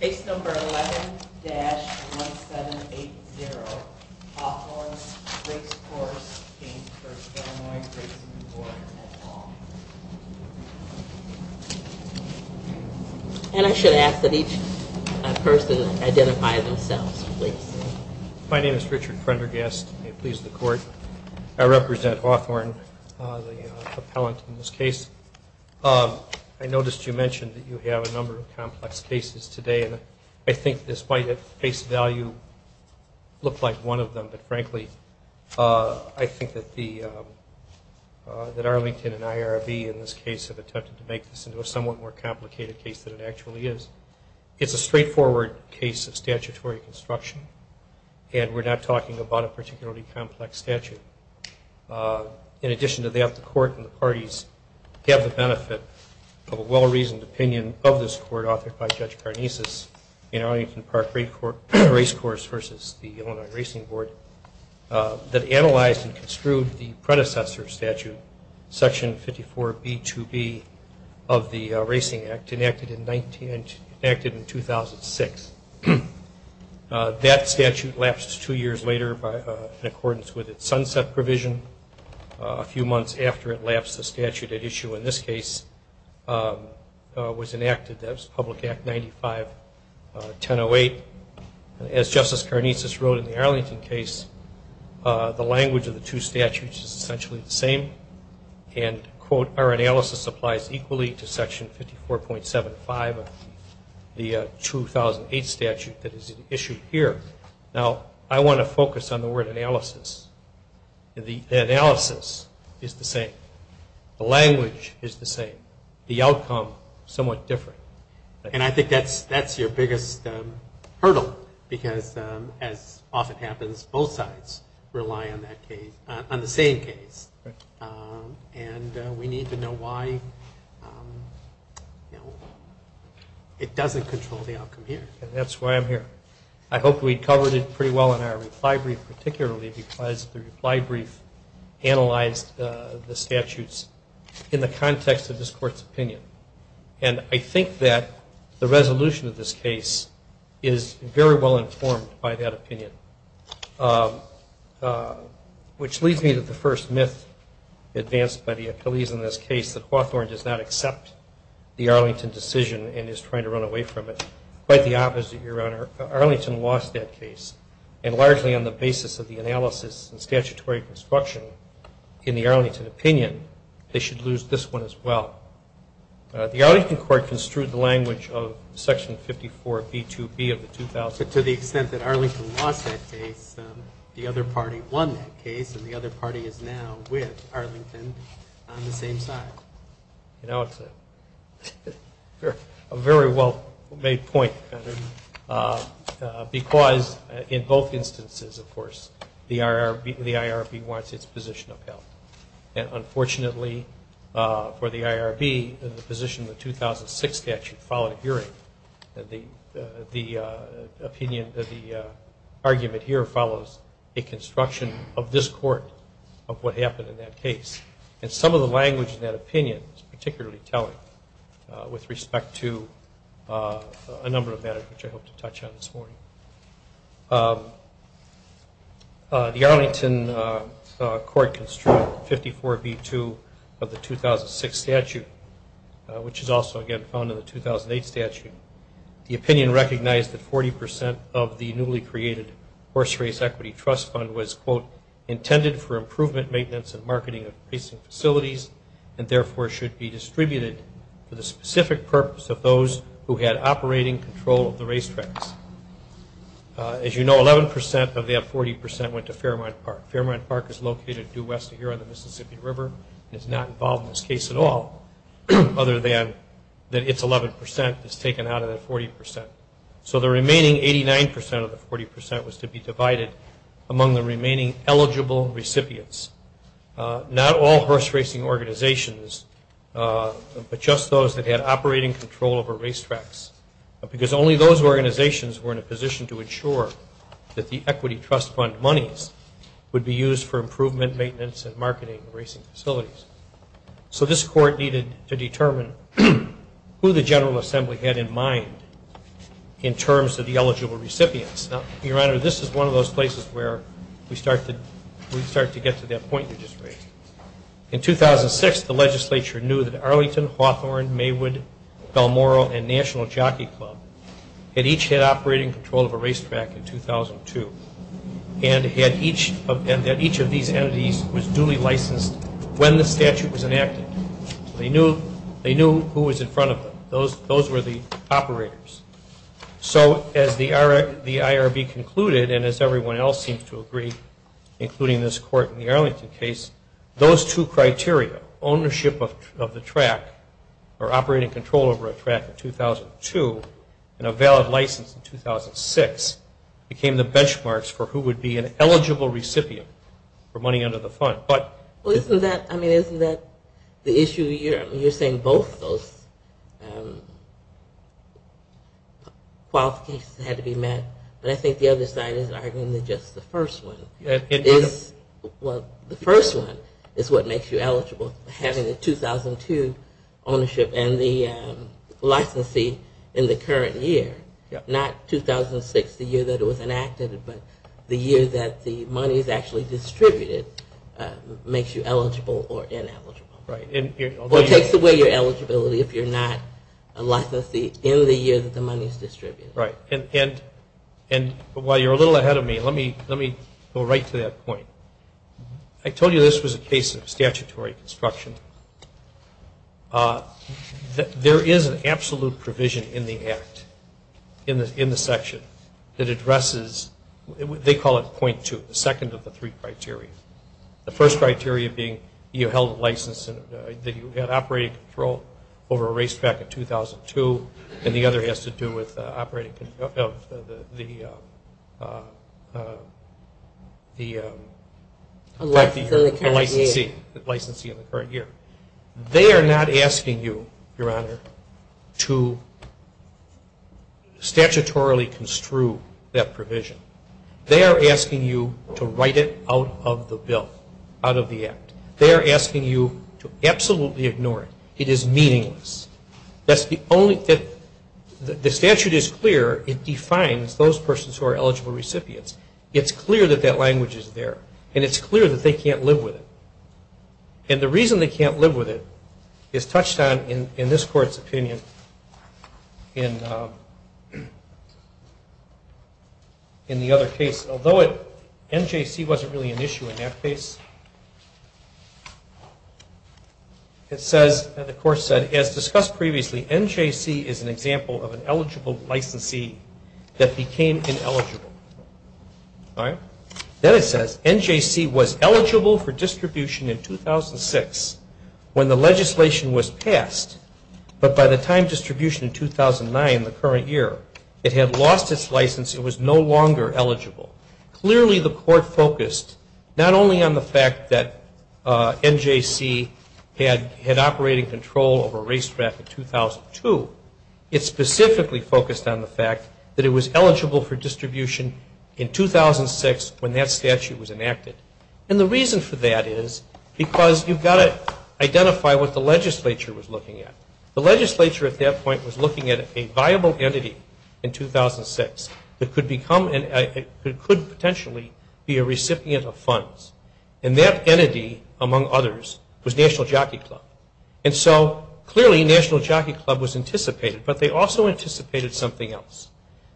Case number 11-1780, Hawthorne Race Course, Inc. v. Illinois Racing Board, at Long. And I should ask that each person identify themselves, please. My name is Richard Prendergast, may it please the Court. I represent Hawthorne, the appellant in this case. I noticed you mentioned that you have a number of complex cases today, and I think this might at face value look like one of them, but frankly I think that Arlington and IRB in this case have attempted to make this into a somewhat more complicated case than it actually is. It's a straightforward case of statutory construction, and we're not talking about a particularly complex statute. In addition to that, the Court and the parties have the benefit of a well-reasoned opinion of this Court authored by Judge Karnesis in Arlington Park Race Course v. Illinois Racing Board that analyzed and construed the predecessor statute, Section 54b-2b of the Racing Act, enacted in 2006. That statute lapsed two years later in accordance with its sunset provision. A few months after it lapsed, the statute at issue in this case was enacted. That was Public Act 95-1008. As Justice Karnesis wrote in the Arlington case, the language of the two statutes is essentially the same, and, quote, our analysis applies equally to Section 54.75 of the 2008 statute that is issued here. Now, I want to focus on the word analysis. The analysis is the same. The language is the same. The outcome is somewhat different. And I think that's your biggest hurdle because, as often happens, both sides rely on the same case. And we need to know why it doesn't control the outcome here. That's why I'm here. I hope we covered it pretty well in our reply brief, particularly because the reply brief analyzed the statutes in the context of this Court's opinion. And I think that the resolution of this case is very well informed by that opinion. Which leads me to the first myth advanced by the appellees in this case, that Hawthorne does not accept the Arlington decision and is trying to run away from it. Quite the opposite, Your Honor. Arlington lost that case. And largely on the basis of the analysis and statutory construction in the Arlington opinion, they should lose this one as well. The Arlington Court construed the language of Section 54B2B of the 2008 to the extent that Arlington lost that case, the other party won that case, and the other party is now with Arlington on the same side. You know, it's a very well-made point, because in both instances, of course, the IRB wants its position upheld. And unfortunately for the IRB, the position of the 2006 statute, followed a hearing, and the argument here follows a construction of this court, of what happened in that case. And some of the language in that opinion is particularly telling with respect to a number of matters which I hope to touch on this morning. The Arlington Court construed 54B2 of the 2006 statute, which is also, again, found in the 2008 statute. The opinion recognized that 40% of the newly created Horse Race Equity Trust Fund was, quote, intended for improvement, maintenance, and marketing of racing facilities, and therefore should be distributed for the specific purpose of those who had operating control of the racetracks. As you know, 11% of that 40% went to Fairmont Park. Fairmont Park is located due west of here on the Mississippi River and is not involved in this case at all, other than that its 11% is taken out of that 40%. So the remaining 89% of the 40% was to be divided among the remaining eligible recipients. Not all horse racing organizations, but just those that had operating control over racetracks, because only those organizations were in a position to ensure that the Equity Trust Fund monies would be used for improvement, maintenance, and marketing of racing facilities. So this court needed to determine who the General Assembly had in mind in terms of the eligible recipients. Now, Your Honor, this is one of those places where we start to get to that point you just raised. In 2006, the legislature knew that Arlington, Hawthorne, Maywood, Balmoral, and National Jockey Club had each had operating control of a racetrack in 2002 and that each of these entities was duly licensed when the statute was enacted. So they knew who was in front of them. Those were the operators. So as the IRB concluded, and as everyone else seems to agree, including this court in the Arlington case, those two criteria, ownership of the track or operating control over a track in 2002 and a valid license in 2006, became the benchmarks for who would be an eligible recipient for money under the fund. But isn't that the issue? You're saying both those qualifications had to be met, but I think the other side is arguing that just the first one is what makes you eligible, having the 2002 ownership and the licensee in the current year, not 2006, the year that it was enacted, but the year that the money is actually distributed makes you eligible or ineligible. Right. Well, it takes away your eligibility if you're not a licensee in the year that the money is distributed. Right. And while you're a little ahead of me, let me go right to that point. I told you this was a case of statutory construction. There is an absolute provision in the Act, in the section, that addresses, they call it point two, the second of the three criteria, the first criteria being you held a license, that you had operating control over a racetrack in 2002, and the other has to do with operating control of the licensee in the current year. They are not asking you, Your Honor, to statutorily construe that provision. They are asking you to write it out of the bill, out of the Act. They are asking you to absolutely ignore it. It is meaningless. The statute is clear. It defines those persons who are eligible recipients. It's clear that that language is there, and it's clear that they can't live with it. And the reason they can't live with it is touched on in this Court's opinion in the other case. Although NJC wasn't really an issue in that case, it says, and the Court said, as discussed previously, NJC is an example of an eligible licensee that became ineligible. All right? Then it says, NJC was eligible for distribution in 2006 when the legislation was passed, but by the time distribution in 2009, the current year, it had lost its license. It was no longer eligible. Clearly, the Court focused not only on the fact that NJC had operating control over race track in 2002, it specifically focused on the fact that it was eligible for distribution in 2006 when that statute was enacted. And the reason for that is because you've got to identify what the legislature was looking at. The legislature at that point was looking at a viable entity in 2006 that could potentially be a recipient of funds, and that entity, among others, was National Jockey Club. And so, clearly, National Jockey Club was anticipated, but they also anticipated something else.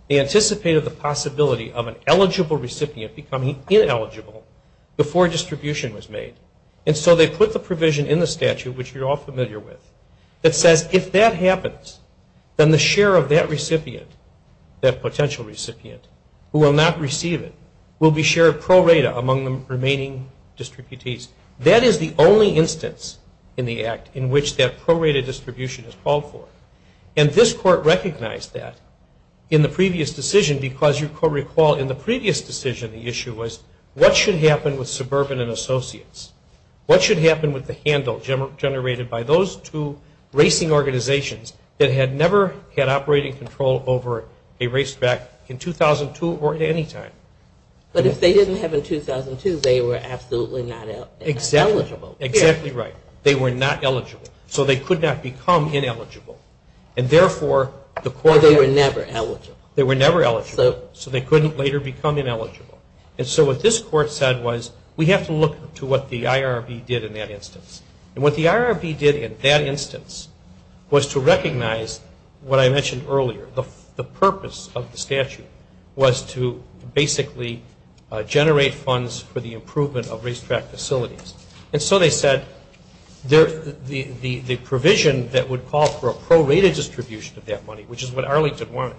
They anticipated the possibility of an eligible recipient becoming ineligible before distribution was made. And so they put the provision in the statute, which you're all familiar with, that says if that happens, then the share of that recipient, that potential recipient, who will not receive it, will be shared pro rata among the remaining distributees. That is the only instance in the Act in which that pro rata distribution is called for. And this Court recognized that in the previous decision because, you recall, in the previous decision the issue was what should happen with suburban and associates? What should happen with the handle generated by those two racing organizations that had never had operating control over a race track in 2002 or at any time? But if they didn't have it in 2002, they were absolutely not eligible. Exactly. Exactly right. They were not eligible. So they could not become ineligible. And, therefore, the Court had to... They were never eligible. They were never eligible. So they couldn't later become ineligible. And so what this Court said was we have to look to what the IRB did in that instance. And what the IRB did in that instance was to recognize what I mentioned earlier, the purpose of the statute was to basically generate funds for the improvement of race track facilities. And so they said the provision that would call for a pro rata distribution of that money, which is what Arlington wanted,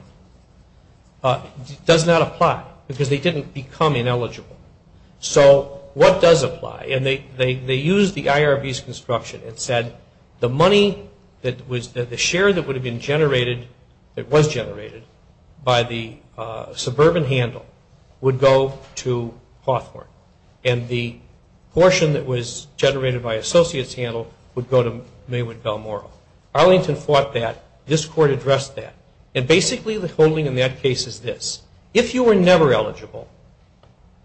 does not apply because they didn't become ineligible. So what does apply? And they used the IRB's construction and said the money that was... the share that would have been generated... that was generated by the suburban handle would go to Hawthorne. And the portion that was generated by associates handle would go to Maywood Bell Morrill. Arlington fought that. This Court addressed that. And, basically, the holding in that case is this. If you were never eligible,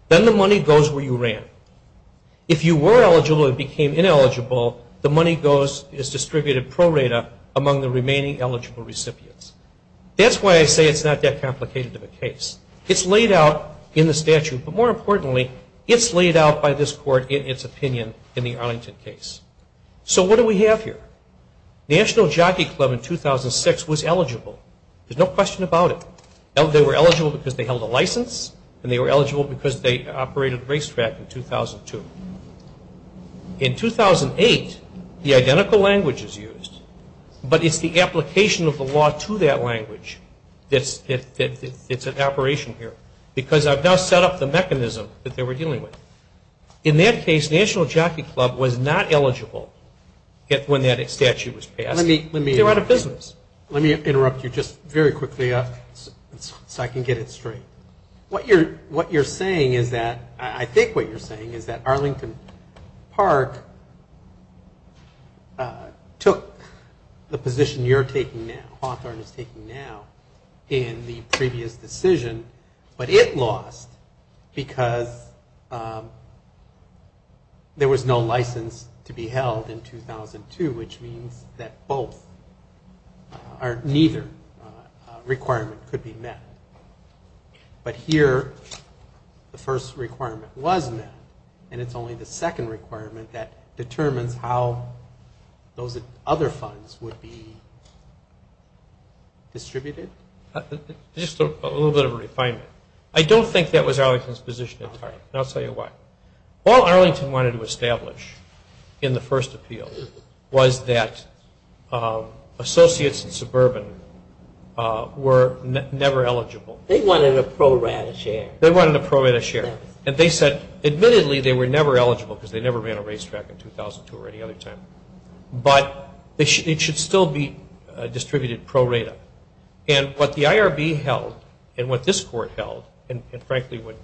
then the money goes where you ran. If you were eligible and became ineligible, the money is distributed pro rata among the remaining eligible recipients. That's why I say it's not that complicated of a case. It's laid out in the statute. But, more importantly, it's laid out by this Court in its opinion in the Arlington case. So what do we have here? National Jockey Club in 2006 was eligible. There's no question about it. They were eligible because they held a license and they were eligible because they operated racetrack in 2002. In 2008, the identical language is used, but it's the application of the law to that language that's at operation here because I've now set up the mechanism that they were dealing with. In that case, National Jockey Club was not eligible when that statute was passed. They were out of business. Let me interrupt you just very quickly so I can get it straight. What you're saying is that, I think what you're saying is that, Arlington Park took the position you're taking now, Hawthorne is taking now, in the previous decision, but it lost because there was no license to be held in 2002, which means that neither requirement could be met. But here, the first requirement was met, and it's only the second requirement that determines how those other funds would be distributed? Just a little bit of a refinement. I don't think that was Arlington's position entirely, and I'll tell you why. All Arlington wanted to establish in the first appeal was that associates and suburban were never eligible. They wanted a pro-rata share. They wanted a pro-rata share. And they said, admittedly, they were never eligible because they never ran a racetrack in 2002 or any other time, but it should still be distributed pro-rata. And what the IRB held, and what this court held, and, frankly, what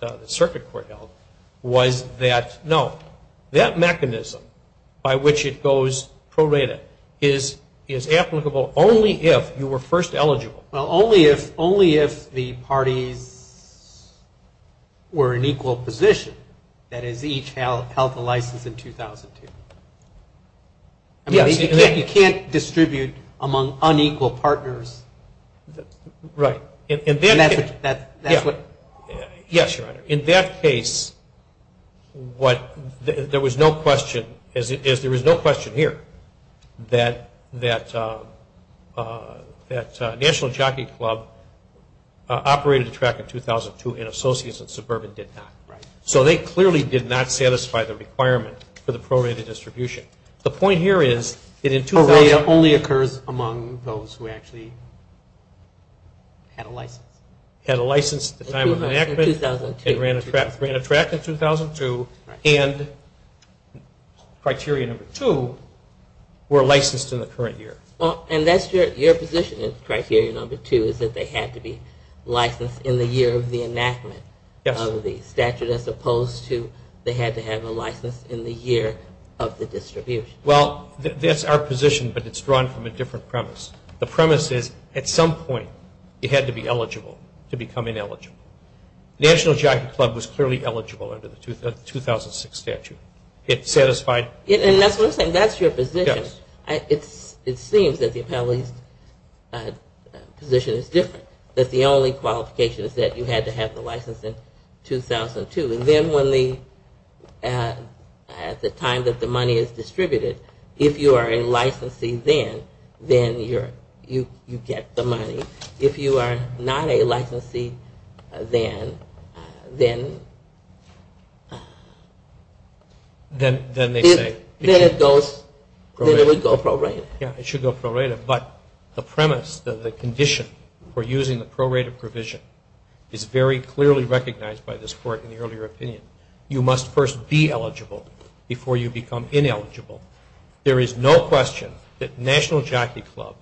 the circuit court held, was that, no, that mechanism by which it goes pro-rata is applicable only if you were first eligible. Well, only if the parties were in equal position, that is, each held the license in 2002. You can't distribute among unequal partners. Right. Yes, Your Honor. In that case, there was no question, as there is no question here, that National Jockey Club operated a track in 2002, and associates and suburban did not. Right. So they clearly did not satisfy the requirement for the pro-rata distribution. The point here is that in 2000- Pro-rata only occurs among those who actually had a license. Had a license at the time of enactment- In 2002. It ran a track in 2002, and criteria number two were licensed in the current year. Well, and that's your position in criteria number two, is that they had to be licensed in the year of the enactment of the statute, as opposed to they had to have a license in the year of the distribution. Well, that's our position, but it's drawn from a different premise. The premise is, at some point, it had to be eligible to become ineligible. National Jockey Club was clearly eligible under the 2006 statute. It satisfied- And that's what I'm saying. That's your position. Yes. It seems that the appellee's position is different, that the only qualification is that you had to have the license in 2002. And then when the-at the time that the money is distributed, if you are a licensee then, then you get the money. If you are not a licensee then, then- Then they say- Then it goes- Pro- Then it would go prorated. Yes, it should go prorated. But the premise, the condition for using the prorated provision, is very clearly recognized by this Court in the earlier opinion. You must first be eligible before you become ineligible. There is no question that National Jockey Club,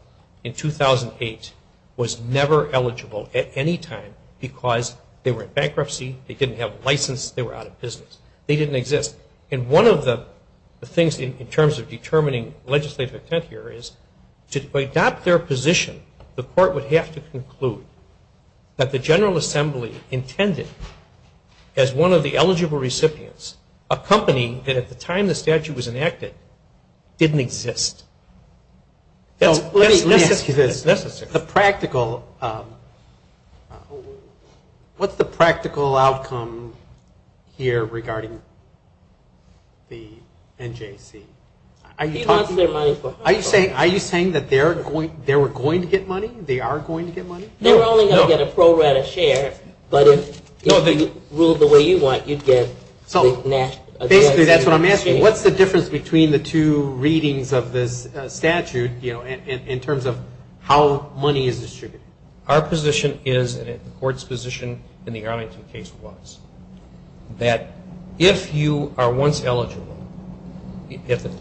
in 2008, was never eligible at any time because they were in bankruptcy, they didn't have a license, they were out of business. They didn't exist. And one of the things in terms of determining legislative intent here is, to adopt their position, the Court would have to conclude that the General Assembly intended, as one of the eligible recipients, a company that at the time the statute was enacted didn't exist. That's necessary. The practical-what's the practical outcome here regarding the NJC? He lost their money for- Are you saying that they were going to get money? They are going to get money? They were only going to get a prorated share, but if you ruled the way you want, you'd get- Basically, that's what I'm asking. What's the difference between the two readings of this statute, in terms of how money is distributed? Our position is, and the Court's position in the Arlington case was, that if you are once eligible-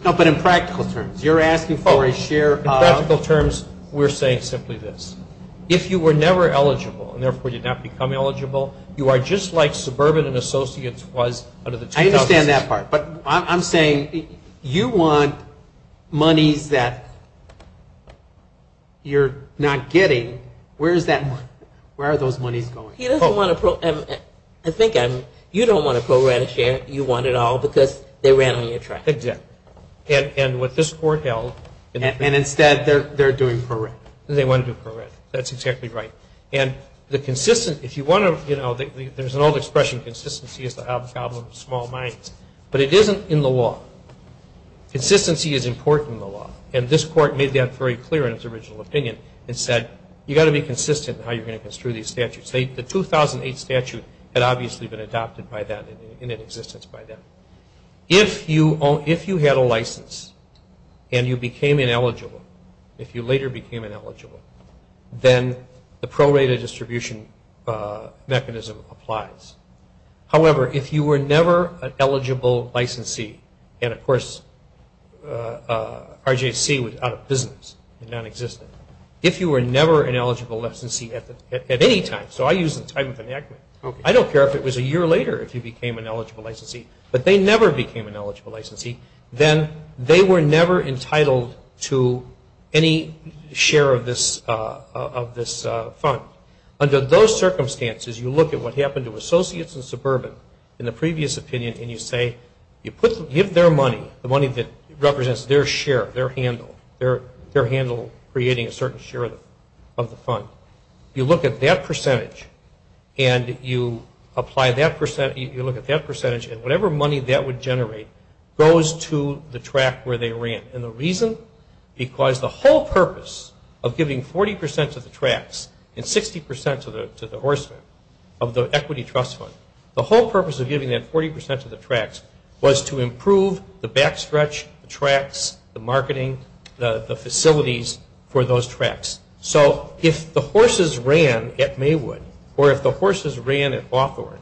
No, but in practical terms. You're asking for a share- In practical terms, we're saying simply this. If you were never eligible, and therefore did not become eligible, you are just like suburban and associates was under the 2000- I understand that part. But I'm saying you want monies that you're not getting. Where is that money? Where are those monies going? He doesn't want to-I think you don't want a prorated share. You want it all because they ran on your track. Exactly. And with this Court held- And instead, they're doing prorated. They want to do prorated. That's exactly right. And the consistent-if you want to-there's an old expression, consistency is the hobgoblin of small minds. But it isn't in the law. Consistency is important in the law. And this Court made that very clear in its original opinion and said, you've got to be consistent in how you're going to construe these statutes. The 2008 statute had obviously been adopted by that, in existence by that. If you had a license and you became ineligible, if you later became ineligible, then the prorated distribution mechanism applies. However, if you were never an eligible licensee, and of course RJC was out of business and nonexistent, if you were never an eligible licensee at any time, so I use the time of enactment, I don't care if it was a year later if you became an eligible licensee, but they never became an eligible licensee, then they were never entitled to any share of this fund. Under those circumstances, you look at what happened to Associates and Suburban in the previous opinion and you say-you give their money, the money that represents their share, their handle, their handle creating a certain share of the fund. You look at that percentage and you apply that-you look at that percentage and whatever money that would generate goes to the track where they ran. And the reason? Because the whole purpose of giving 40 percent to the tracks and 60 percent to the horsemen of the equity trust fund, the whole purpose of giving that 40 percent to the tracks was to improve the backstretch, the tracks, the marketing, the facilities for those tracks. So if the horses ran at Maywood or if the horses ran at Hawthorne,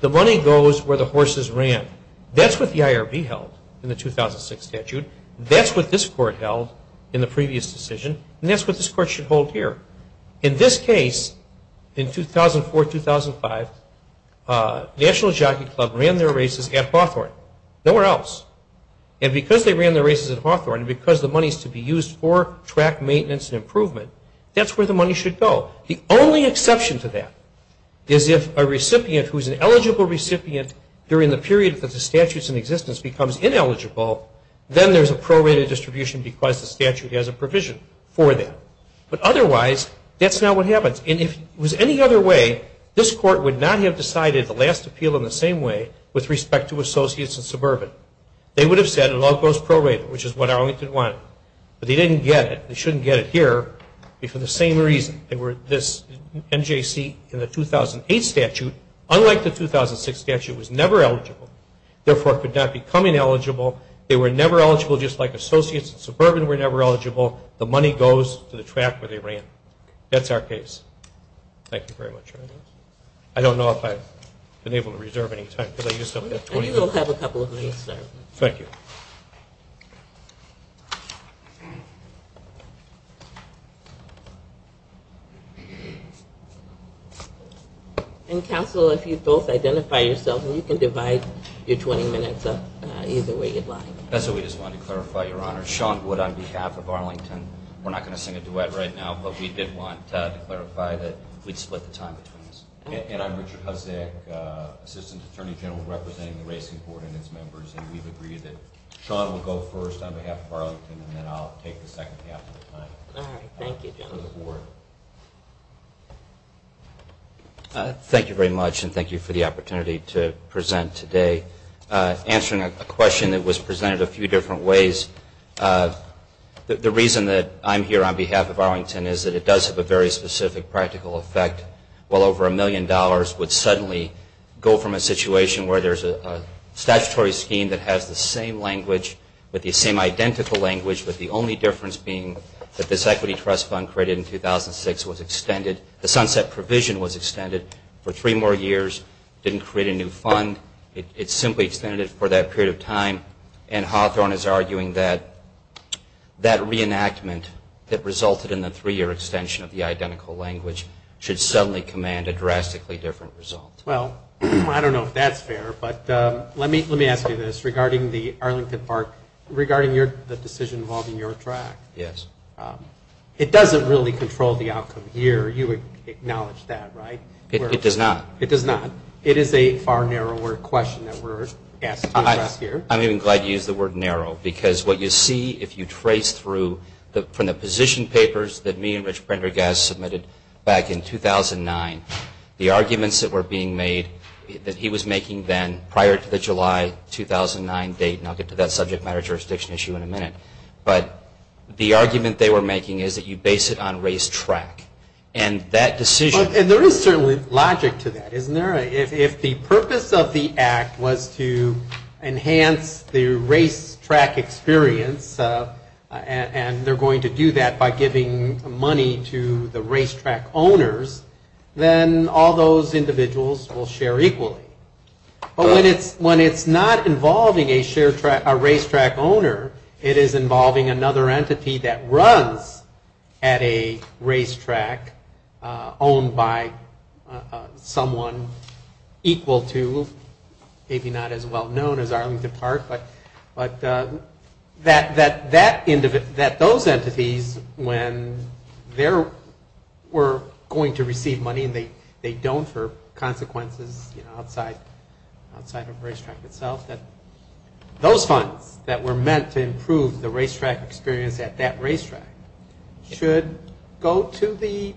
the money goes where the horses ran. That's what the IRB held in the 2006 statute. That's what this court held in the previous decision, and that's what this court should hold here. In this case, in 2004-2005, National Jockey Club ran their races at Hawthorne, nowhere else. And because they ran their races at Hawthorne and because the money is to be used for track maintenance and improvement, that's where the money should go. The only exception to that is if a recipient who is an eligible recipient during the period that the statute is in existence becomes ineligible, then there's a prorated distribution because the statute has a provision for that. But otherwise, that's not what happens. And if it was any other way, this court would not have decided the last appeal in the same way with respect to associates and suburban. They would have said it all goes prorated, which is what Arlington wanted. But they didn't get it. They shouldn't get it here for the same reason. They were this NJC in the 2008 statute. Unlike the 2006 statute, it was never eligible. Therefore, it could not become ineligible. They were never eligible just like associates and suburban were never eligible. The money goes to the track where they ran. That's our case. Thank you very much. I don't know if I've been able to reserve any time because I used up that 20 minutes. We'll have a couple of minutes, sir. Thank you. And counsel, if you both identify yourselves, you can divide your 20 minutes up either way you'd like. That's what we just wanted to clarify, Your Honor. Sean Wood on behalf of Arlington. We're not going to sing a duet right now, but we did want to clarify that we'd split the time between us. And I'm Richard Hosek, Assistant Attorney General, representing the Racing Board and its members, and we've agreed that Sean will go first on behalf of Arlington, and then I'll take the second half of the time. All right. Thank you, gentlemen. Thank you very much, and thank you for the opportunity to present today. Answering a question that was presented a few different ways, the reason that I'm here on behalf of Arlington is that it does have a very specific practical effect. Well, over a million dollars would suddenly go from a situation where there's a statutory scheme that has the same language, with the same identical language, with the only difference being that this equity trust fund created in 2006 was extended. The sunset provision was extended for three more years, didn't create a new fund. It simply extended it for that period of time. And Hawthorne is arguing that that reenactment that resulted in the three-year extension of the identical language should suddenly command a drastically different result. Well, I don't know if that's fair, but let me ask you this. Regarding the Arlington Park, regarding the decision involving your track, it doesn't really control the outcome here. You acknowledge that, right? It does not. It does not. It is a far narrower question that we're asked to address here. I'm even glad you used the word narrow, because what you see if you trace through from the position papers that me and Rich Prendergast submitted back in 2009, the arguments that were being made that he was making then prior to the July 2009 date, and I'll get to that subject matter jurisdiction issue in a minute, but the argument they were making is that you base it on race track. And that decision… And there is certainly logic to that, isn't there? If the purpose of the act was to enhance the race track experience, and they're going to do that by giving money to the race track owners, then all those individuals will share equally. But when it's not involving a race track owner, it is involving another entity that runs at a race track owned by someone equal to, maybe not as well known as Arlington Park, but that those entities, when they were going to receive money, and they don't for consequences outside of race track itself, that those funds that were meant to improve the race track experience at that race track should go to the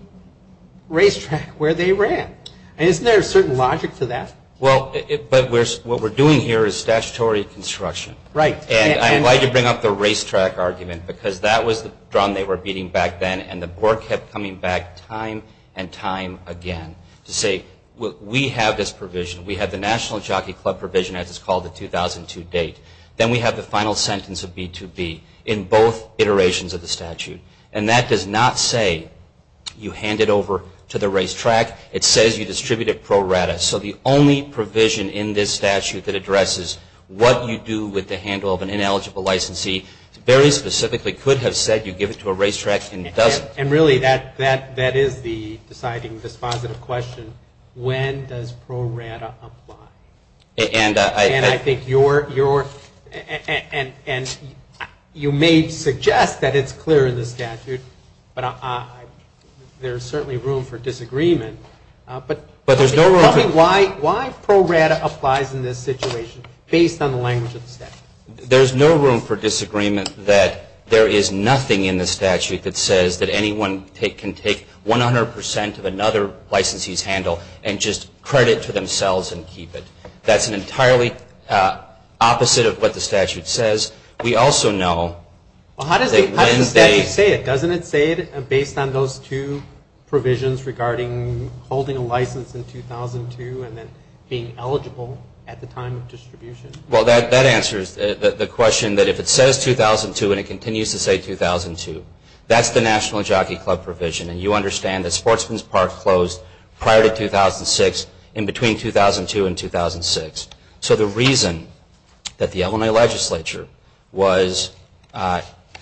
race track where they ran. And isn't there a certain logic to that? Well, but what we're doing here is statutory construction. Right. And I'm glad you bring up the race track argument, because that was the drum they were beating back then, and the board kept coming back time and time again to say, we have this provision. We have the National Jockey Club provision, as it's called, the 2002 date. Then we have the final sentence of B2B in both iterations of the statute. And that does not say you hand it over to the race track. It says you distribute it pro rata. So the only provision in this statute that addresses what you do with the handle of an ineligible licensee very specifically could have said you give it to a race track and doesn't. And really, that is the deciding, dispositive question. When does pro rata apply? And I think your – and you may suggest that it's clear in the statute, but there's certainly room for disagreement. But there's no room for – Tell me why pro rata applies in this situation based on the language of the statute. There's no room for disagreement that there is nothing in the statute that says that anyone can take 100% of another licensee's handle and just credit to themselves and keep it. That's an entirely opposite of what the statute says. We also know that when they – Well, how does the statute say it? Based on those two provisions regarding holding a license in 2002 and then being eligible at the time of distribution? Well, that answers the question that if it says 2002 and it continues to say 2002, that's the National Jockey Club provision. And you understand that Sportsman's Park closed prior to 2006, in between 2002 and 2006. So the reason that the Illinois legislature was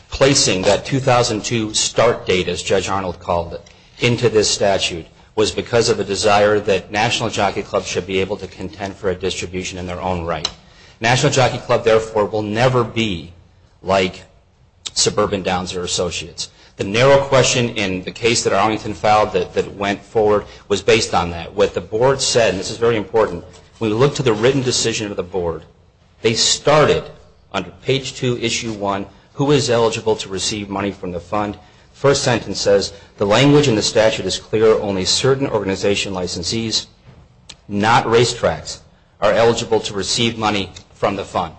placing that 2002 start date, as Judge Arnold called it, into this statute was because of the desire that National Jockey Club should be able to contend for a distribution in their own right. National Jockey Club, therefore, will never be like Suburban Downs or Associates. The narrow question in the case that Arlington filed that went forward was based on that. What the board said, and this is very important, when we look to the written decision of the board, they started under page 2, issue 1, who is eligible to receive money from the fund. The first sentence says, the language in the statute is clear, only certain organization licensees, not racetracks, are eligible to receive money from the fund.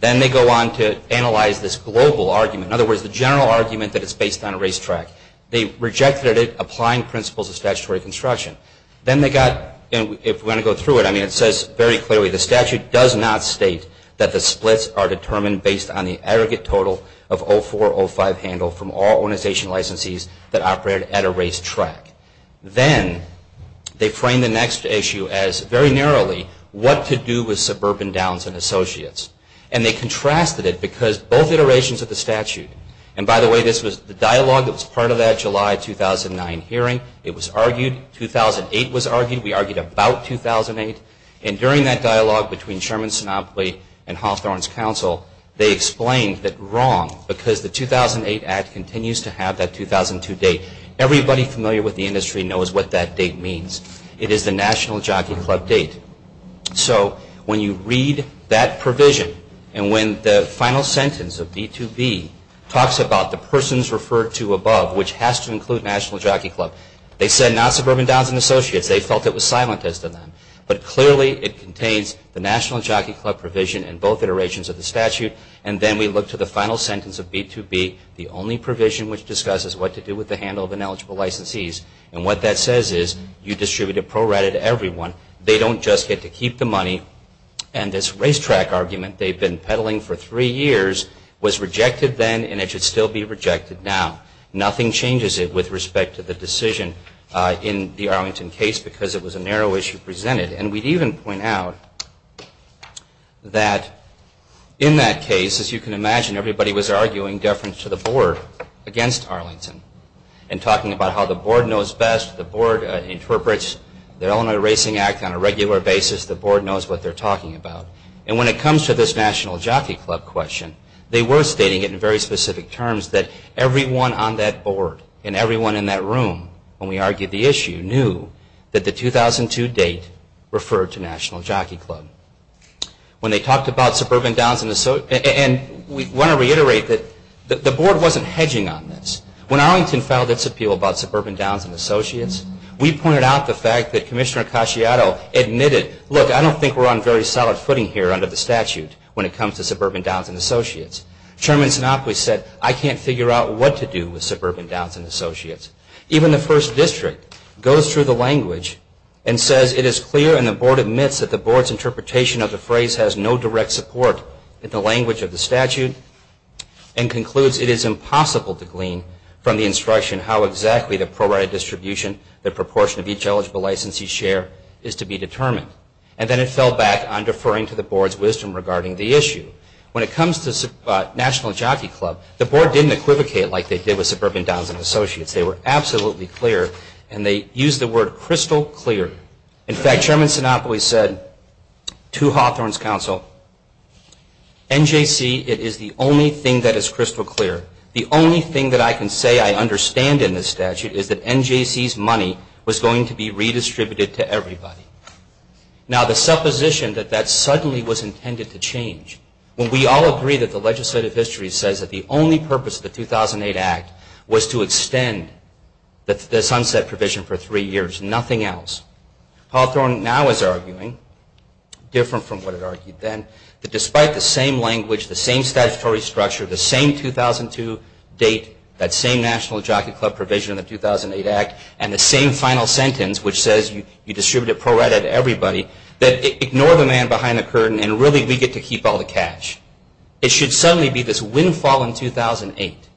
Then they go on to analyze this global argument. In other words, the general argument that it's based on a racetrack. They rejected it, applying principles of statutory construction. Then they got, and if we want to go through it, I mean it says very clearly, the statute does not state that the splits are determined based on the aggregate total of 0405 handled from all organization licensees that operated at a racetrack. Then they framed the next issue as, very narrowly, what to do with Suburban Downs and Associates. And they contrasted it because both iterations of the statute, and by the way, this was the dialogue that was part of that July 2009 hearing. It was argued, 2008 was argued. We argued about 2008. And during that dialogue between Sherman, Sinopoli, and Hawthorne's Council, they explained that wrong, because the 2008 act continues to have that 2002 date. Everybody familiar with the industry knows what that date means. It is the National Jockey Club date. So when you read that provision, and when the final sentence of B2B talks about the persons referred to above, which has to include National Jockey Club, they said not Suburban Downs and Associates. They felt it was silent as to that. But clearly it contains the National Jockey Club provision in both iterations of the statute. And then we look to the final sentence of B2B, the only provision which discusses what to do with the handle of ineligible licensees. And what that says is, you distribute a pro rata to everyone. They don't just get to keep the money. And this racetrack argument they've been peddling for three years was rejected then and it should still be rejected now. Nothing changes it with respect to the decision in the Arlington case because it was a narrow issue presented. And we'd even point out that in that case, as you can imagine, everybody was arguing deference to the board against Arlington and talking about how the board knows best. The board interprets the Illinois Racing Act on a regular basis. The board knows what they're talking about. And when it comes to this National Jockey Club question, they were stating it in very specific terms that everyone on that board and everyone in that room when we argued the issue knew that the 2002 date referred to National Jockey Club. When they talked about Suburban Downs and Associates, and we want to reiterate that the board wasn't hedging on this. When Arlington filed its appeal about Suburban Downs and Associates, we pointed out the fact that Commissioner Acasciato admitted, look, I don't think we're on very solid footing here under the statute when it comes to Suburban Downs and Associates. Chairman Sinopoli said, I can't figure out what to do with Suburban Downs and Associates. Even the first district goes through the language and says it is clear and the board admits that the board's interpretation of the phrase has no direct support in the language of the statute and concludes it is impossible to glean from the instruction how exactly the prorated distribution, the proportion of each eligible licensee's share is to be determined. And then it fell back on deferring to the board's wisdom regarding the issue. When it comes to National Jockey Club, the board didn't equivocate like they did with Suburban Downs and Associates. They were absolutely clear and they used the word crystal clear. In fact, Chairman Sinopoli said to Hawthorne's counsel, NJC, it is the only thing that is crystal clear. The only thing that I can say I understand in this statute is that NJC's money was going to be redistributed to everybody. Now the supposition that that suddenly was intended to change, when we all agree that the legislative history says that the only purpose of the 2008 Act was to extend the sunset provision for three years, nothing else. Hawthorne now is arguing, different from what it argued then, that despite the same language, the same statutory structure, the same 2002 date, that same National Jockey Club provision in the 2008 Act, and the same final sentence which says you distribute it pro rata to everybody, that ignore the man behind the curtain and really we get to keep all the cash. It should suddenly be this windfall in 2008.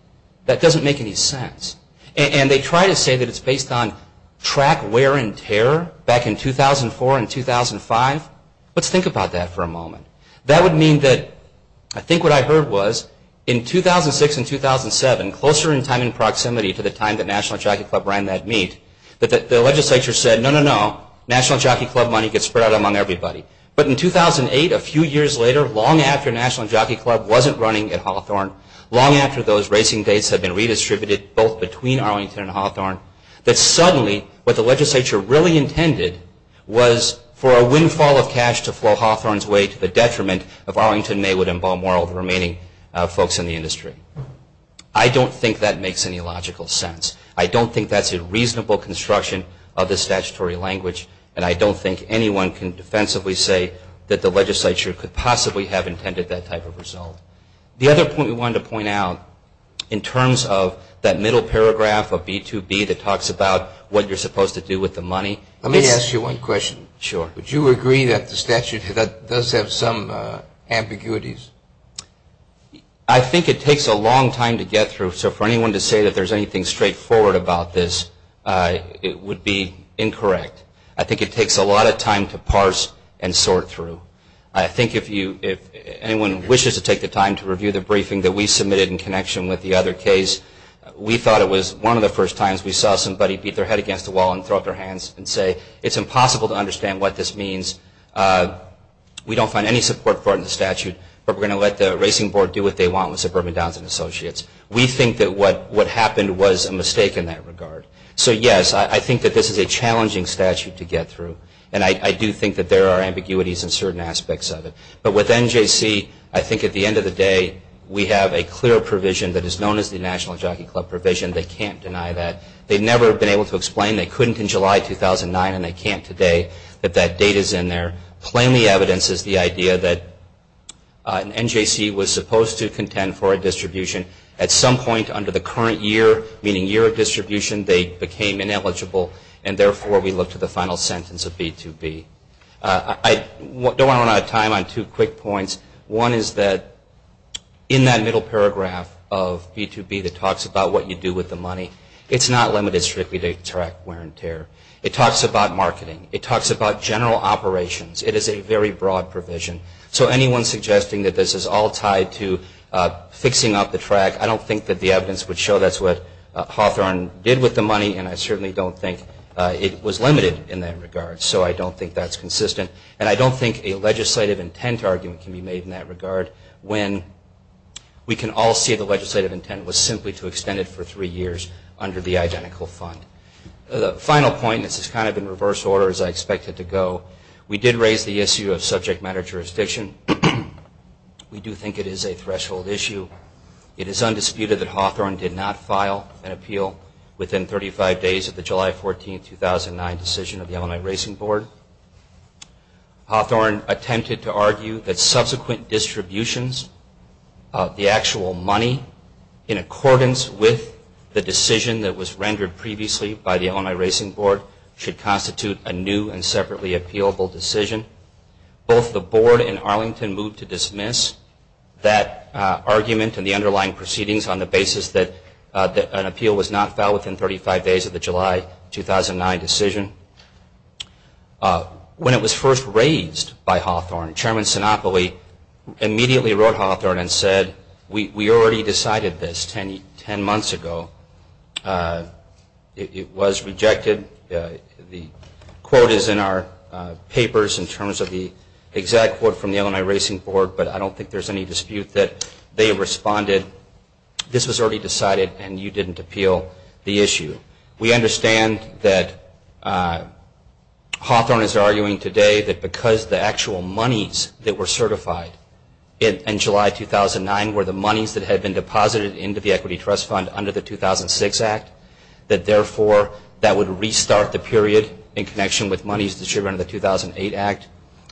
That doesn't make any sense. And they try to say that it's based on track wear and tear back in 2004 and 2005. Let's think about that for a moment. That would mean that, I think what I heard was, in 2006 and 2007, closer in time and proximity to the time that National Jockey Club ran that meet, that the legislature said, no, no, no, National Jockey Club money gets spread out among everybody. But in 2008, a few years later, long after National Jockey Club wasn't running at Hawthorne, long after those racing dates had been redistributed both between Arlington and Hawthorne, that suddenly what the legislature really intended was for a windfall of cash to flow Hawthorne's way to the detriment of Arlington, Maywood, and Balmoral, the remaining folks in the industry. I don't think that makes any logical sense. I don't think that's a reasonable construction of the statutory language, and I don't think anyone can defensively say that the legislature could possibly have intended that type of result. The other point we wanted to point out, in terms of that middle paragraph of B2B that talks about what you're supposed to do with the money, let me ask you one question. Sure. Would you agree that the statute does have some ambiguities? I think it takes a long time to get through, so for anyone to say that there's anything straightforward about this, it would be incorrect. I think it takes a lot of time to parse and sort through. I think if anyone wishes to take the time to review the briefing that we submitted in connection with the other case, we thought it was one of the first times we saw somebody beat their head against the wall and throw up their hands and say, it's impossible to understand what this means. We don't find any support for it in the statute, but we're going to let the Racing Board do what they want with Suburban Downs and Associates. We think that what happened was a mistake in that regard. So yes, I think that this is a challenging statute to get through, and I do think that there are ambiguities in certain aspects of it. But with NJC, I think at the end of the day, we have a clear provision that is known as the National Jockey Club provision. They can't deny that. They've never been able to explain they couldn't in July 2009, and they can't today that that date is in there. Plainly evidence is the idea that NJC was supposed to contend for a distribution. At some point under the current year, meaning year of distribution, they became ineligible, and therefore we look to the final sentence of B-2-B. I don't want to run out of time on two quick points. One is that in that middle paragraph of B-2-B that talks about what you do with the money, it's not limited strictly to track wear and tear. It talks about marketing. It talks about general operations. It is a very broad provision. So anyone suggesting that this is all tied to fixing up the track, I don't think that the evidence would show that's what Hawthorne did with the money, and I certainly don't think it was limited in that regard. So I don't think that's consistent, and I don't think a legislative intent argument can be made in that regard when we can all see the legislative intent was simply to extend it for three years under the identical fund. The final point, and this is kind of in reverse order as I expect it to go, we did raise the issue of subject matter jurisdiction. We do think it is a threshold issue. It is undisputed that Hawthorne did not file an appeal within 35 days of the July 14, 2009, decision of the Illinois Racing Board. Hawthorne attempted to argue that subsequent distributions of the actual money in accordance with the decision that was rendered previously by the Illinois Racing Board should constitute a new and separately appealable decision. Both the board and Arlington moved to dismiss that argument and the underlying proceedings on the basis that an appeal was not filed within 35 days of the July 2009 decision. When it was first raised by Hawthorne, Chairman Sinopoli immediately wrote Hawthorne and said, we already decided this 10 months ago. It was rejected. The quote is in our papers in terms of the exact quote from the Illinois Racing Board, but I don't think there's any dispute that they responded, this was already decided and you didn't appeal the issue. We understand that Hawthorne is arguing today that because the actual monies that were certified in July 2009 were the monies that had been deposited into the Equity Trust Fund under the 2006 Act, that therefore that would restart the period in connection with monies distributed under the 2008 Act.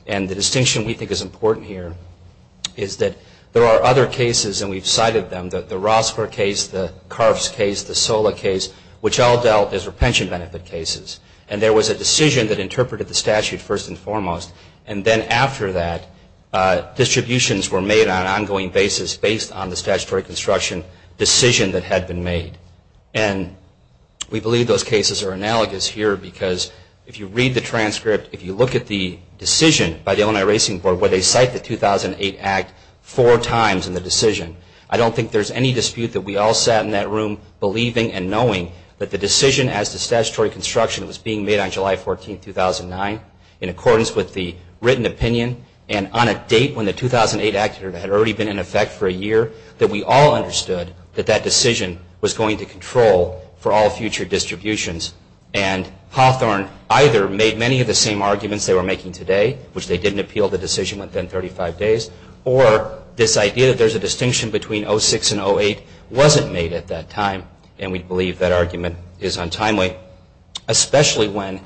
And the distinction we think is important here is that there are other cases, and we've cited them, the Rosper case, the Karfs case, the Sola case, which all dealt as repentance benefit cases. And there was a decision that interpreted the statute first and foremost, and then after that, distributions were made on an ongoing basis based on the statutory construction decision that had been made. And we believe those cases are analogous here because if you read the transcript, if you look at the decision by the Illinois Racing Board where they cite the 2008 Act four times in the decision, I don't think there's any dispute that we all sat in that room believing and knowing that the decision as to statutory construction was being made on July 14, 2009 in accordance with the written opinion and on a date when the 2008 Act had already been in effect for a year, that we all understood that that decision was going to control for all future distributions. And Hawthorne either made many of the same arguments they were making today, which they didn't appeal the decision within 35 days, or this idea that there's a distinction between 06 and 08 wasn't made at that time, and we believe that argument is untimely, especially when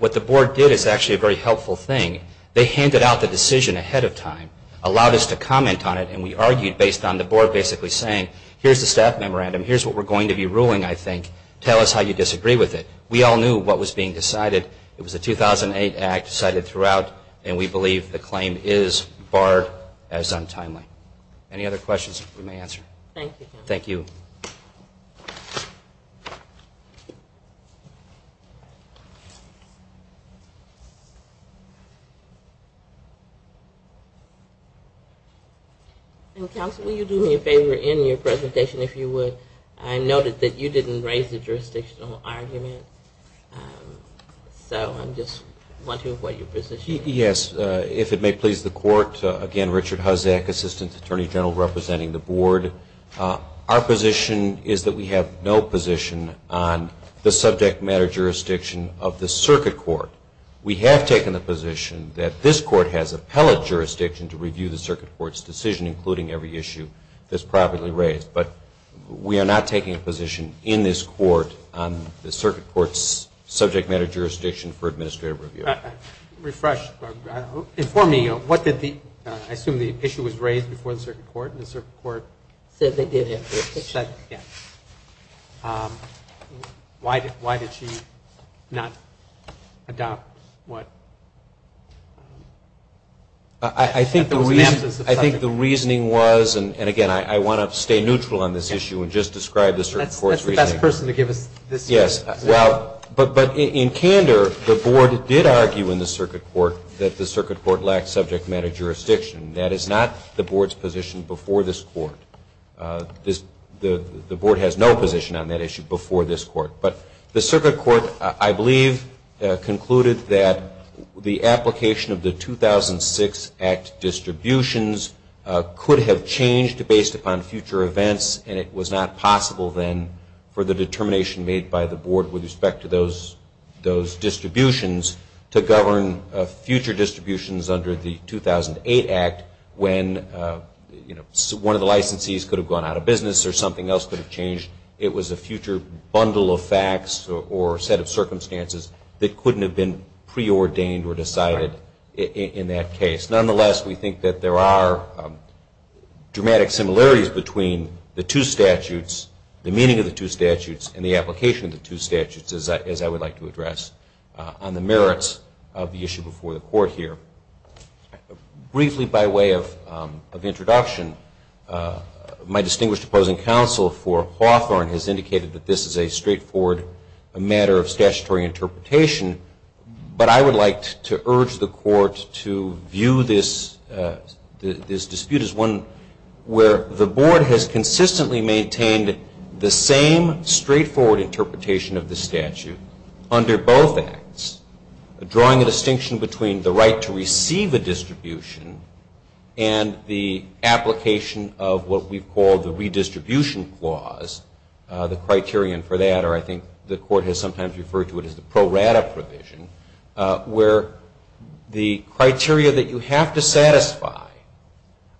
what the board did is actually a very helpful thing. They handed out the decision ahead of time, allowed us to comment on it, and we argued based on the board basically saying, here's the staff memorandum, here's what we're going to be ruling, I think. Tell us how you disagree with it. We all knew what was being decided. It was the 2008 Act decided throughout, and we believe the claim is, barred, as untimely. Any other questions we may answer? Thank you, counsel. Thank you. Counsel, will you do me a favor in your presentation if you would? I noticed that you didn't raise the jurisdictional argument, so I'm just wondering what your position is. Yes. If it may please the court, again, Richard Huzzack, Assistant Attorney General representing the board. Our position is that we have no position on the subject matter jurisdiction of the circuit court. We have taken the position that this court has appellate jurisdiction to review the circuit court's decision, including every issue that's properly raised. But we are not taking a position in this court on the circuit court's subject matter jurisdiction for administrative review. Refresh. Inform me, I assume the issue was raised before the circuit court, and the circuit court said they did have jurisdiction. Yes. Why did she not adopt what? I think the reasoning was, and again, I want to stay neutral on this issue and just describe the circuit court's reasoning. That's the best person to give us this. Yes. But in candor, the board did argue in the circuit court that the circuit court lacked subject matter jurisdiction. That is not the board's position before this court. The board has no position on that issue before this court. But the circuit court, I believe, concluded that the application of the 2006 Act distributions could have changed based upon future events, and it was not possible then for the determination made by the board with respect to those distributions to govern future distributions under the 2008 Act when one of the licensees could have gone out of business or something else could have changed. It was a future bundle of facts or set of circumstances that couldn't have been preordained or decided in that case. Nonetheless, we think that there are dramatic similarities between the two statutes, the meaning of the two statutes, and the application of the two statutes, as I would like to address on the merits of the issue before the court here. Briefly by way of introduction, my distinguished opposing counsel for Hawthorne has indicated that this is a straightforward matter of statutory interpretation, but I would like to urge the court to view this dispute as one where the board has consistently maintained the same straightforward interpretation of the statute under both Acts, drawing a distinction between the right to receive a distribution and the application of what we've called the redistribution clause, the criterion for that, or I think the court has sometimes referred to it as the pro rata provision, where the criteria that you have to satisfy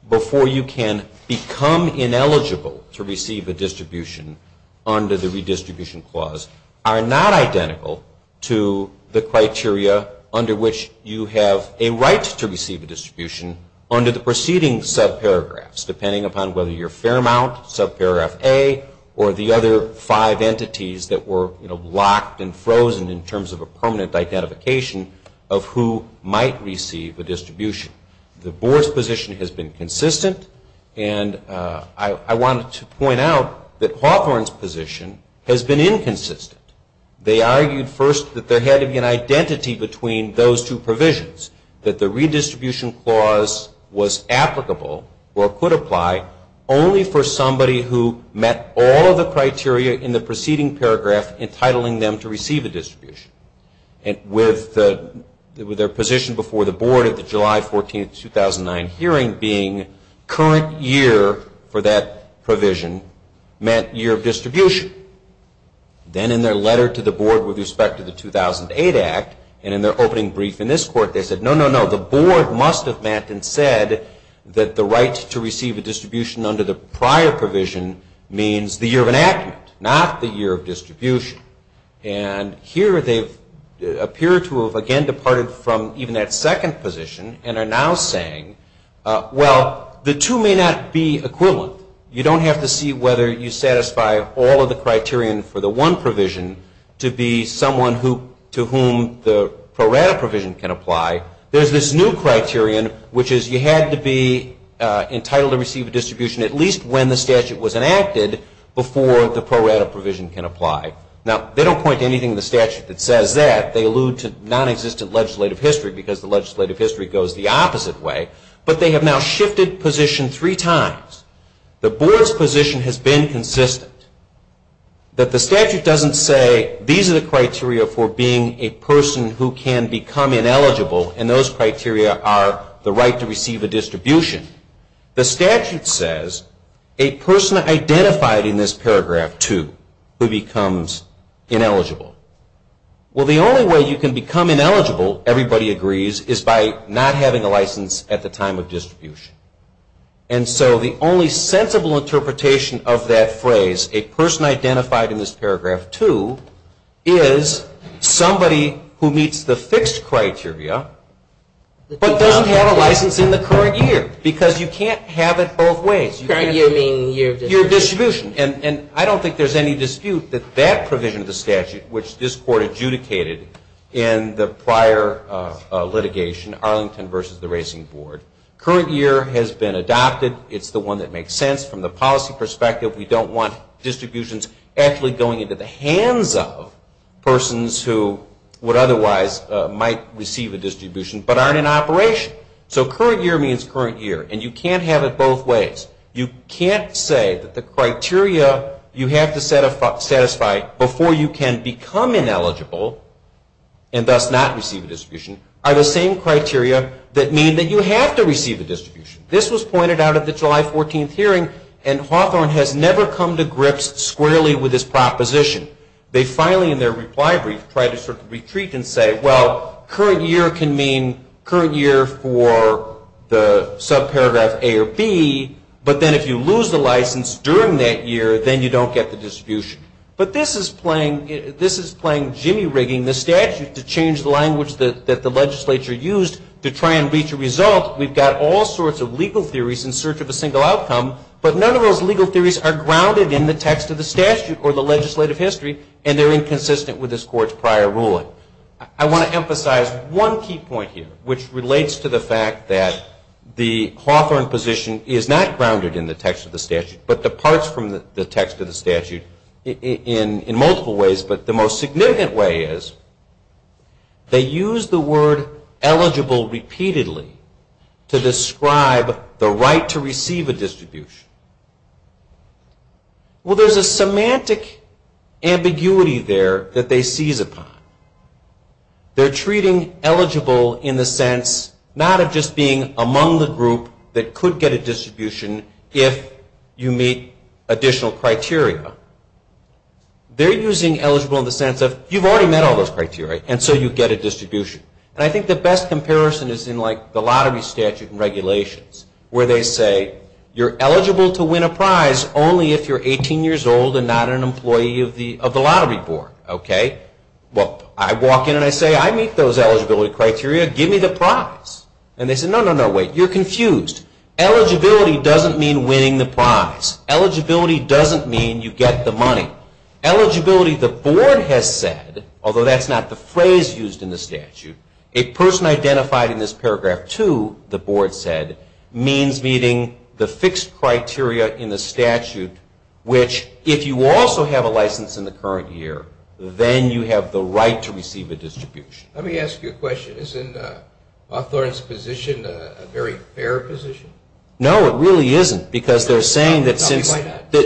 before you can become ineligible to receive a distribution under the redistribution clause are not identical to the criteria under which you have a right to receive a distribution under the preceding subparagraphs, depending upon whether you're Fairmount, subparagraph A, or the other five entities that were locked and frozen in terms of a permanent identification of who might receive a distribution. The board's position has been consistent, and I wanted to point out that Hawthorne's position has been inconsistent. They argued first that there had to be an identity between those two provisions, that the redistribution clause was applicable or could apply only for somebody who met all of the criteria in the preceding paragraph entitling them to receive a distribution. And with their position before the board at the July 14, 2009 hearing being current year for that provision meant year of distribution. Then in their letter to the board with respect to the 2008 Act, and in their opening brief in this court, they said, no, no, no, the board must have met and said that the right to receive a distribution under the prior provision means the year of enactment, not the year of distribution. And here they appear to have again departed from even that second position and are now saying, well, the two may not be equivalent. You don't have to see whether you satisfy all of the criterion for the one provision to be someone to whom the pro rata provision can apply. There's this new criterion, which is you had to be entitled to receive a distribution at least when the statute was enacted before the pro rata provision can apply. Now, they don't point to anything in the statute that says that. They allude to nonexistent legislative history because the legislative history goes the opposite way. But they have now shifted position three times. The board's position has been consistent. That the statute doesn't say these are the criteria for being a person who can become ineligible and those criteria are the right to receive a distribution. The statute says a person identified in this paragraph two who becomes ineligible. Well, the only way you can become ineligible, everybody agrees, is by not having a license at the time of distribution. And so the only sensible interpretation of that phrase, a person identified in this paragraph two, is somebody who meets the fixed criteria but doesn't have a license in the current year because you can't have it both ways. Current year meaning year of distribution. Year of distribution. And I don't think there's any dispute that that provision of the statute, which this court adjudicated in the prior litigation, Arlington versus the Racing Board, current year has been adopted. It's the one that makes sense from the policy perspective. We don't want distributions actually going into the hands of persons who would otherwise might receive a distribution but aren't in operation. So current year means current year. And you can't have it both ways. You can't say that the criteria you have to satisfy before you can become ineligible and thus not receive a distribution are the same criteria that mean that you have to receive a distribution. This was pointed out at the July 14th hearing, and Hawthorne has never come to grips squarely with this proposition. They finally, in their reply brief, try to sort of retreat and say, well, current year can mean current year for the subparagraph A or B, but then if you lose the license during that year, then you don't get the distribution. But this is playing jimmy rigging the statute to change the language that the legislature used to try and reach a result. We've got all sorts of legal theories in search of a single outcome, but none of those legal theories are grounded in the text of the statute or the legislative history, and they're inconsistent with this court's prior ruling. I want to emphasize one key point here, which relates to the fact that the Hawthorne position is not grounded in the text of the statute but departs from the text of the statute in multiple ways. But the most significant way is they use the word eligible repeatedly to describe the right to receive a distribution. Well, there's a semantic ambiguity there that they seize upon. They're treating eligible in the sense not of just being among the group that could get a distribution if you meet additional criteria. They're using eligible in the sense of you've already met all those criteria and so you get a distribution. And I think the best comparison is in the lottery statute and regulations where they say you're eligible to win a prize only if you're 18 years old and not an employee of the lottery board. Well, I walk in and I say, I meet those eligibility criteria, give me the prize. And they say, no, no, no, wait, you're confused. Eligibility doesn't mean winning the prize. Eligibility doesn't mean you get the money. Eligibility, the board has said, although that's not the phrase used in the statute, a person identified in this paragraph 2, the board said, means meeting the fixed criteria in the statute, which if you also have a license in the current year, then you have the right to receive a distribution. Let me ask you a question. Isn't Hawthorne's position a very fair position? No, it really isn't because they're saying that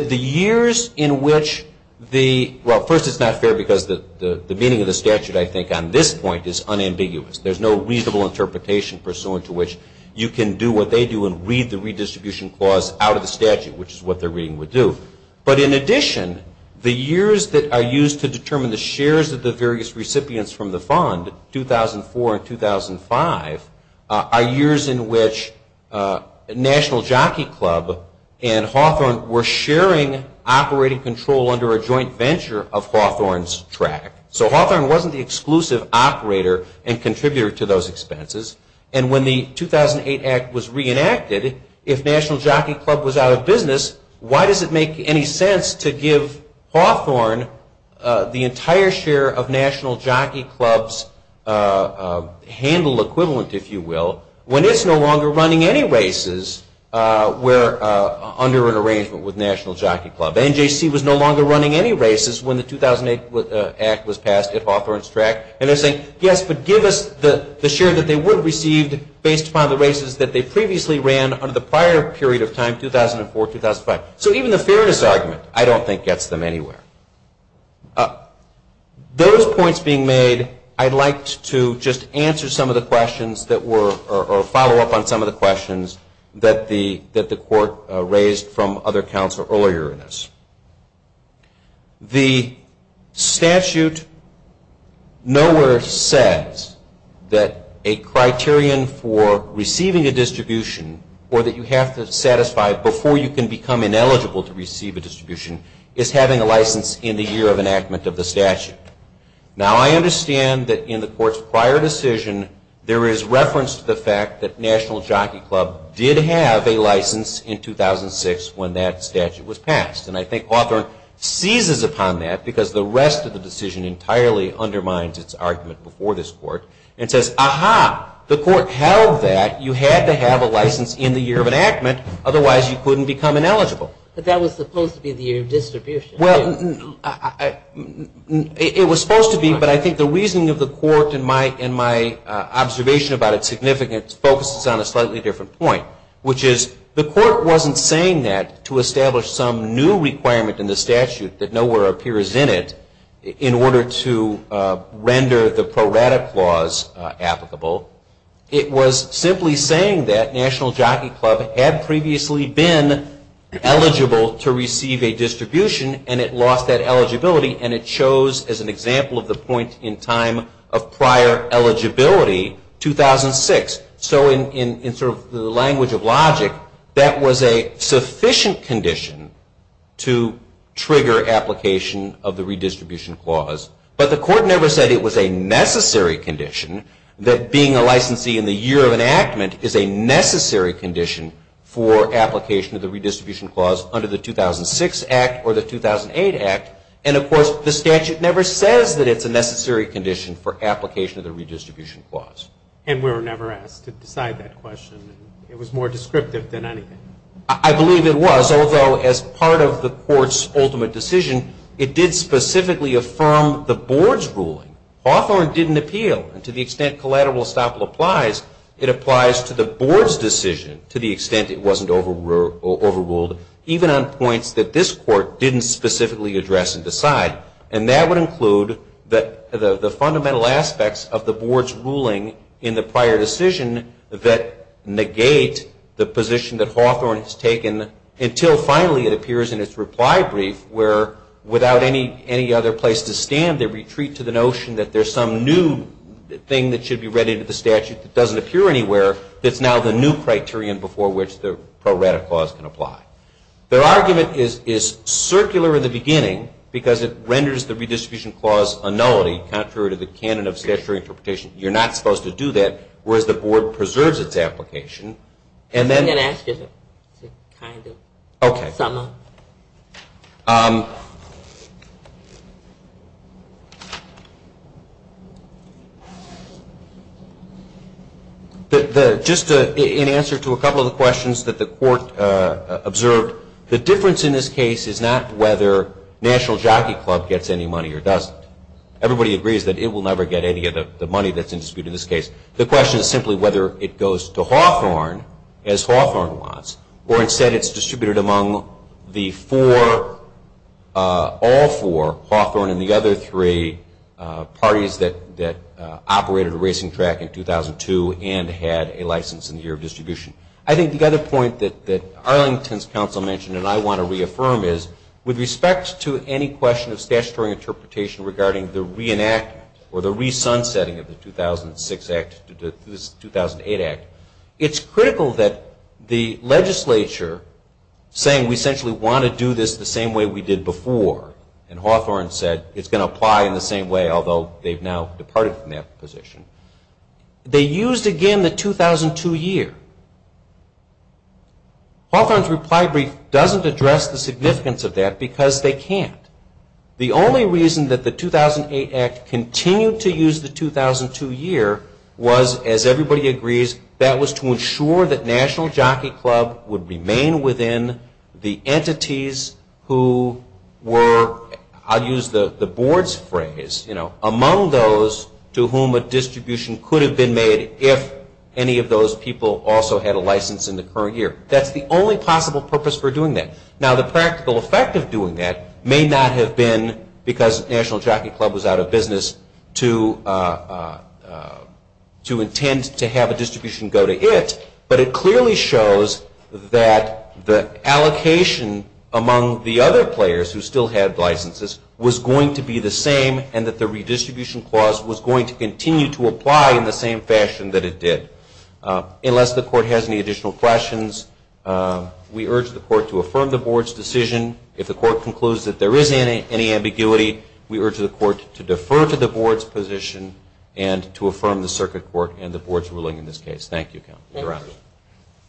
the years in which the – well, first it's not fair because the meaning of the statute, I think, on this point is unambiguous. There's no reasonable interpretation pursuant to which you can do what they do and read the redistribution clause out of the statute, which is what they're reading would do. But in addition, the years that are used to determine the shares of the various National Jockey Club and Hawthorne were sharing operating control under a joint venture of Hawthorne's track. So Hawthorne wasn't the exclusive operator and contributor to those expenses. And when the 2008 Act was reenacted, if National Jockey Club was out of business, why does it make any sense to give Hawthorne the entire share of National Jockey Club's handle equivalent, if you will, when it's no longer running any races under an arrangement with National Jockey Club? NJC was no longer running any races when the 2008 Act was passed at Hawthorne's track. And they're saying, yes, but give us the share that they would have received based upon the races that they previously ran under the prior period of time, 2004, 2005. So even the fairness argument, I don't think, gets them anywhere. Those points being made, I'd like to just answer some of the questions that were or follow up on some of the questions that the court raised from other counselors earlier in this. The statute nowhere says that a criterion for receiving a distribution or that you have to satisfy before you can become ineligible to receive a distribution is having a license in the year of enactment of the statute. Now, I understand that in the court's prior decision, there is reference to the fact that National Jockey Club did have a license in 2006 when that statute was passed. And I think Hawthorne seizes upon that because the rest of the decision entirely undermines its argument before this court and says, aha, the court held that you had to have a license in the year of enactment, otherwise you couldn't become ineligible. But that was supposed to be the year of distribution. Well, it was supposed to be, but I think the reasoning of the court and my observation about its significance focuses on a slightly different point, which is the court wasn't saying that to establish some new requirement in the statute that nowhere appears in it in order to render the Pro Rata Clause applicable. It was simply saying that National Jockey Club had previously been eligible to receive a distribution, and it lost that eligibility, and it chose, as an example of the point in time of prior eligibility, 2006. So in sort of the language of logic, that was a sufficient condition to trigger application of the redistribution clause. But the court never said it was a necessary condition that being a licensee in the year of enactment is a necessary condition for application of the redistribution clause under the 2006 Act or the 2008 Act. And, of course, the statute never says that it's a necessary condition for application of the redistribution clause. And we were never asked to decide that question. It was more descriptive than anything. I believe it was, although as part of the court's ultimate decision, it did specifically affirm the board's ruling. Hawthorne didn't appeal. And to the extent collateral estoppel applies, it applies to the board's decision to the extent it wasn't overruled, even on points that this court didn't specifically address and decide. And that would include the fundamental aspects of the board's ruling in the prior decision that negate the position that Hawthorne has taken until finally it appears in its reply brief where, without any other place to stand, they retreat to the notion that there's some new thing that should be read into the statute that doesn't appear anywhere that's now the new criterion before which the pro rata clause can apply. Their argument is circular in the beginning because it renders the redistribution clause a nullity, contrary to the canon of statutory interpretation. You're not supposed to do that, whereas the board preserves its application. I'm going to ask you to kind of sum up. Just in answer to a couple of the questions that the court observed, the difference in this case is not whether National Jockey Club gets any money or doesn't. Everybody agrees that it will never get any of the money that's in dispute in this case. The question is simply whether it goes to Hawthorne as Hawthorne wants or instead it's distributed among the four, all four, Hawthorne and the other three parties that operated a racing track in 2002 and had a license in the year of distribution. I think the other point that Arlington's counsel mentioned and I want to reaffirm is, with respect to any question of statutory interpretation regarding the re-enactment or the re-sunsetting of the 2006 Act to this 2008 Act, it's critical that the legislature, saying we essentially want to do this the same way we did before, and Hawthorne said it's going to apply in the same way, although they've now departed from that position, they used again the 2002 year. Hawthorne's reply brief doesn't address the significance of that because they can't. The only reason that the 2008 Act continued to use the 2002 year was, as everybody agrees, that was to ensure that National Jockey Club would remain within the entities who were, I'll use the board's phrase, among those to whom a distribution could have been made if any of those people also had a license in the current year. That's the only possible purpose for doing that. Now, the practical effect of doing that may not have been because National Jockey Club was out of business to intend to have a distribution go to it, but it clearly shows that the allocation among the other players who still had licenses was going to be the same and that the redistribution clause was going to continue to apply in the same fashion that it did. Unless the court has any additional questions, we urge the court to affirm the board's decision. If the court concludes that there is any ambiguity, we urge the court to defer to the board's position and to affirm the circuit court and the board's ruling in this case. Thank you, counsel.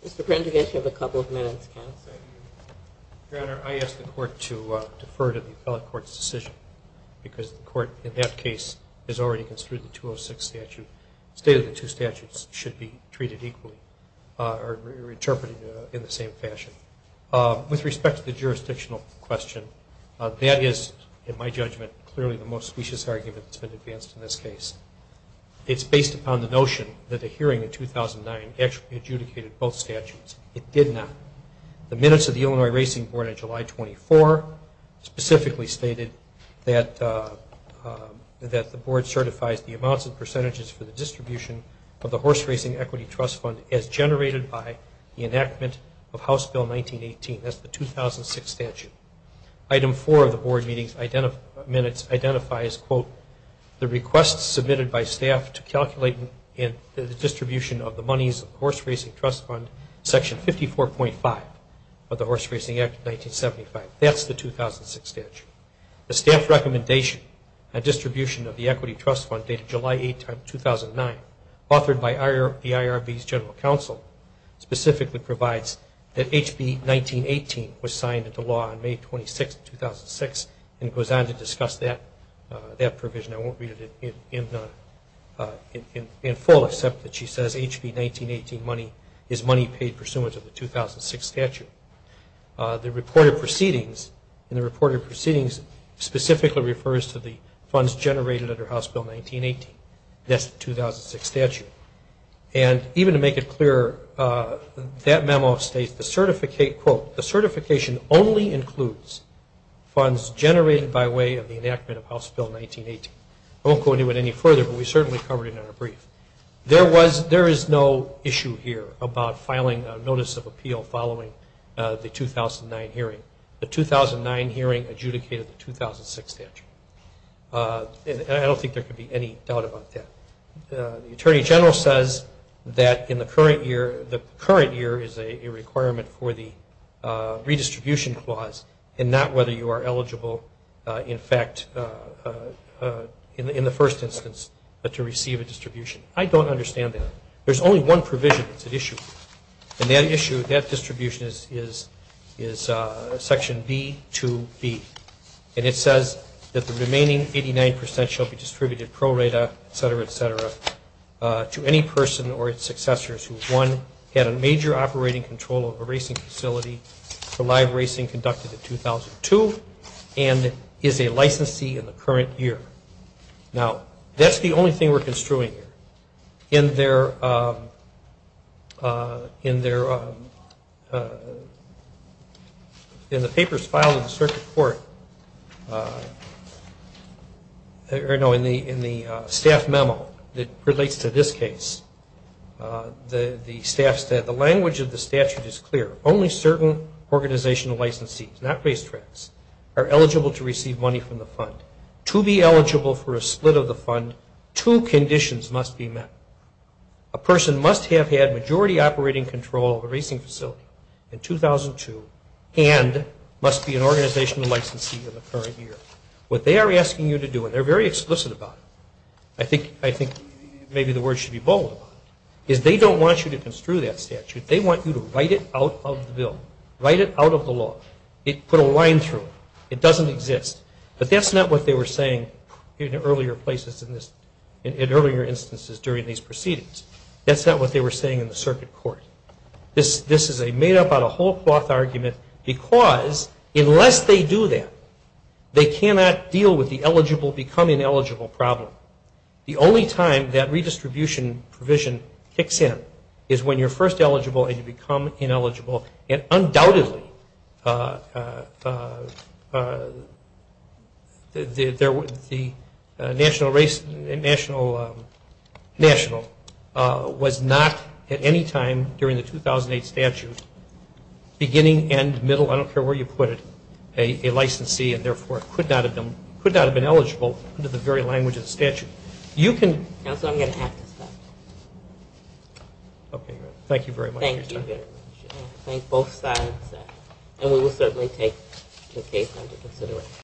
Mr. Prendergast, you have a couple of minutes, counsel. Your Honor, I ask the court to defer to the appellate court's decision because the court, in that case, has already construed the 206 statute. The state of the two statutes should be treated equally or interpreted in the same fashion. With respect to the jurisdictional question, that is, in my judgment, clearly the most specious argument that's been advanced in this case. It's based upon the notion that the hearing in 2009 actually adjudicated both statutes. It did not. The minutes of the Illinois Racing Board on July 24 specifically stated that the board certifies the amounts and percentages for the distribution of the horse racing equity trust fund as generated by the enactment of House Bill 1918. That's the 2006 statute. Item 4 of the board minutes identifies, quote, the request submitted by staff to calculate the distribution of the monies of the horse racing trust fund, section 54.5 of the Horse Racing Act of 1975. That's the 2006 statute. The staff recommendation on distribution of the equity trust fund dated July 8, 2009, authored by the IRB's general counsel, specifically provides that HB 1918 was signed into law on May 26, 2006, and goes on to discuss that provision. I won't read it in full, except that she says HB 1918 money is money paid pursuant to the 2006 statute. The reported proceedings specifically refers to the funds generated under House Bill 1918. That's the 2006 statute. And even to make it clearer, that memo states, quote, the certification only includes funds generated by way of the enactment of House Bill 1918. I won't go into it any further, but we certainly covered it in our brief. There is no issue here about filing a notice of appeal following the 2009 hearing. The 2009 hearing adjudicated the 2006 statute. I don't think there could be any doubt about that. The attorney general says that in the current year, the current year is a requirement for the redistribution clause, and not whether you are eligible, in fact, in the first instance, to receive a distribution. I don't understand that. There's only one provision. It's an issue. And that issue, that distribution is section B2B. And it says that the remaining 89 percent shall be distributed pro rata, et cetera, et cetera, to any person or its successors who, one, had a major operating control of a racing facility for live racing conducted in 2002, and is a licensee in the current year. Now, that's the only thing we're construing here. In the papers filed in the circuit court, or, no, in the staff memo that relates to this case, the language of the statute is clear. Only certain organizational licensees, not racetracks, are eligible to receive money from the fund. To be eligible for a split of the fund, two conditions must be met. A person must have had majority operating control of a racing facility in 2002 and must be an organizational licensee in the current year. What they are asking you to do, and they're very explicit about it, I think maybe the word should be bold about it, is they don't want you to construe that statute. They want you to write it out of the bill. Write it out of the law. Put a line through it. It doesn't exist. But that's not what they were saying in earlier instances during these proceedings. That's not what they were saying in the circuit court. This is made up out of whole cloth argument because unless they do that, they cannot deal with the eligible become ineligible problem. The only time that redistribution provision kicks in is when you're first eligible and you become ineligible. And undoubtedly the national was not at any time during the 2008 statute beginning and middle, I don't care where you put it, a licensee and therefore could not have been eligible under the very language of the statute. Counsel, I'm going to have to stop. Okay. Thank you very much for your time. Thank you very much. I thank both sides. And we will certainly take the case under consideration.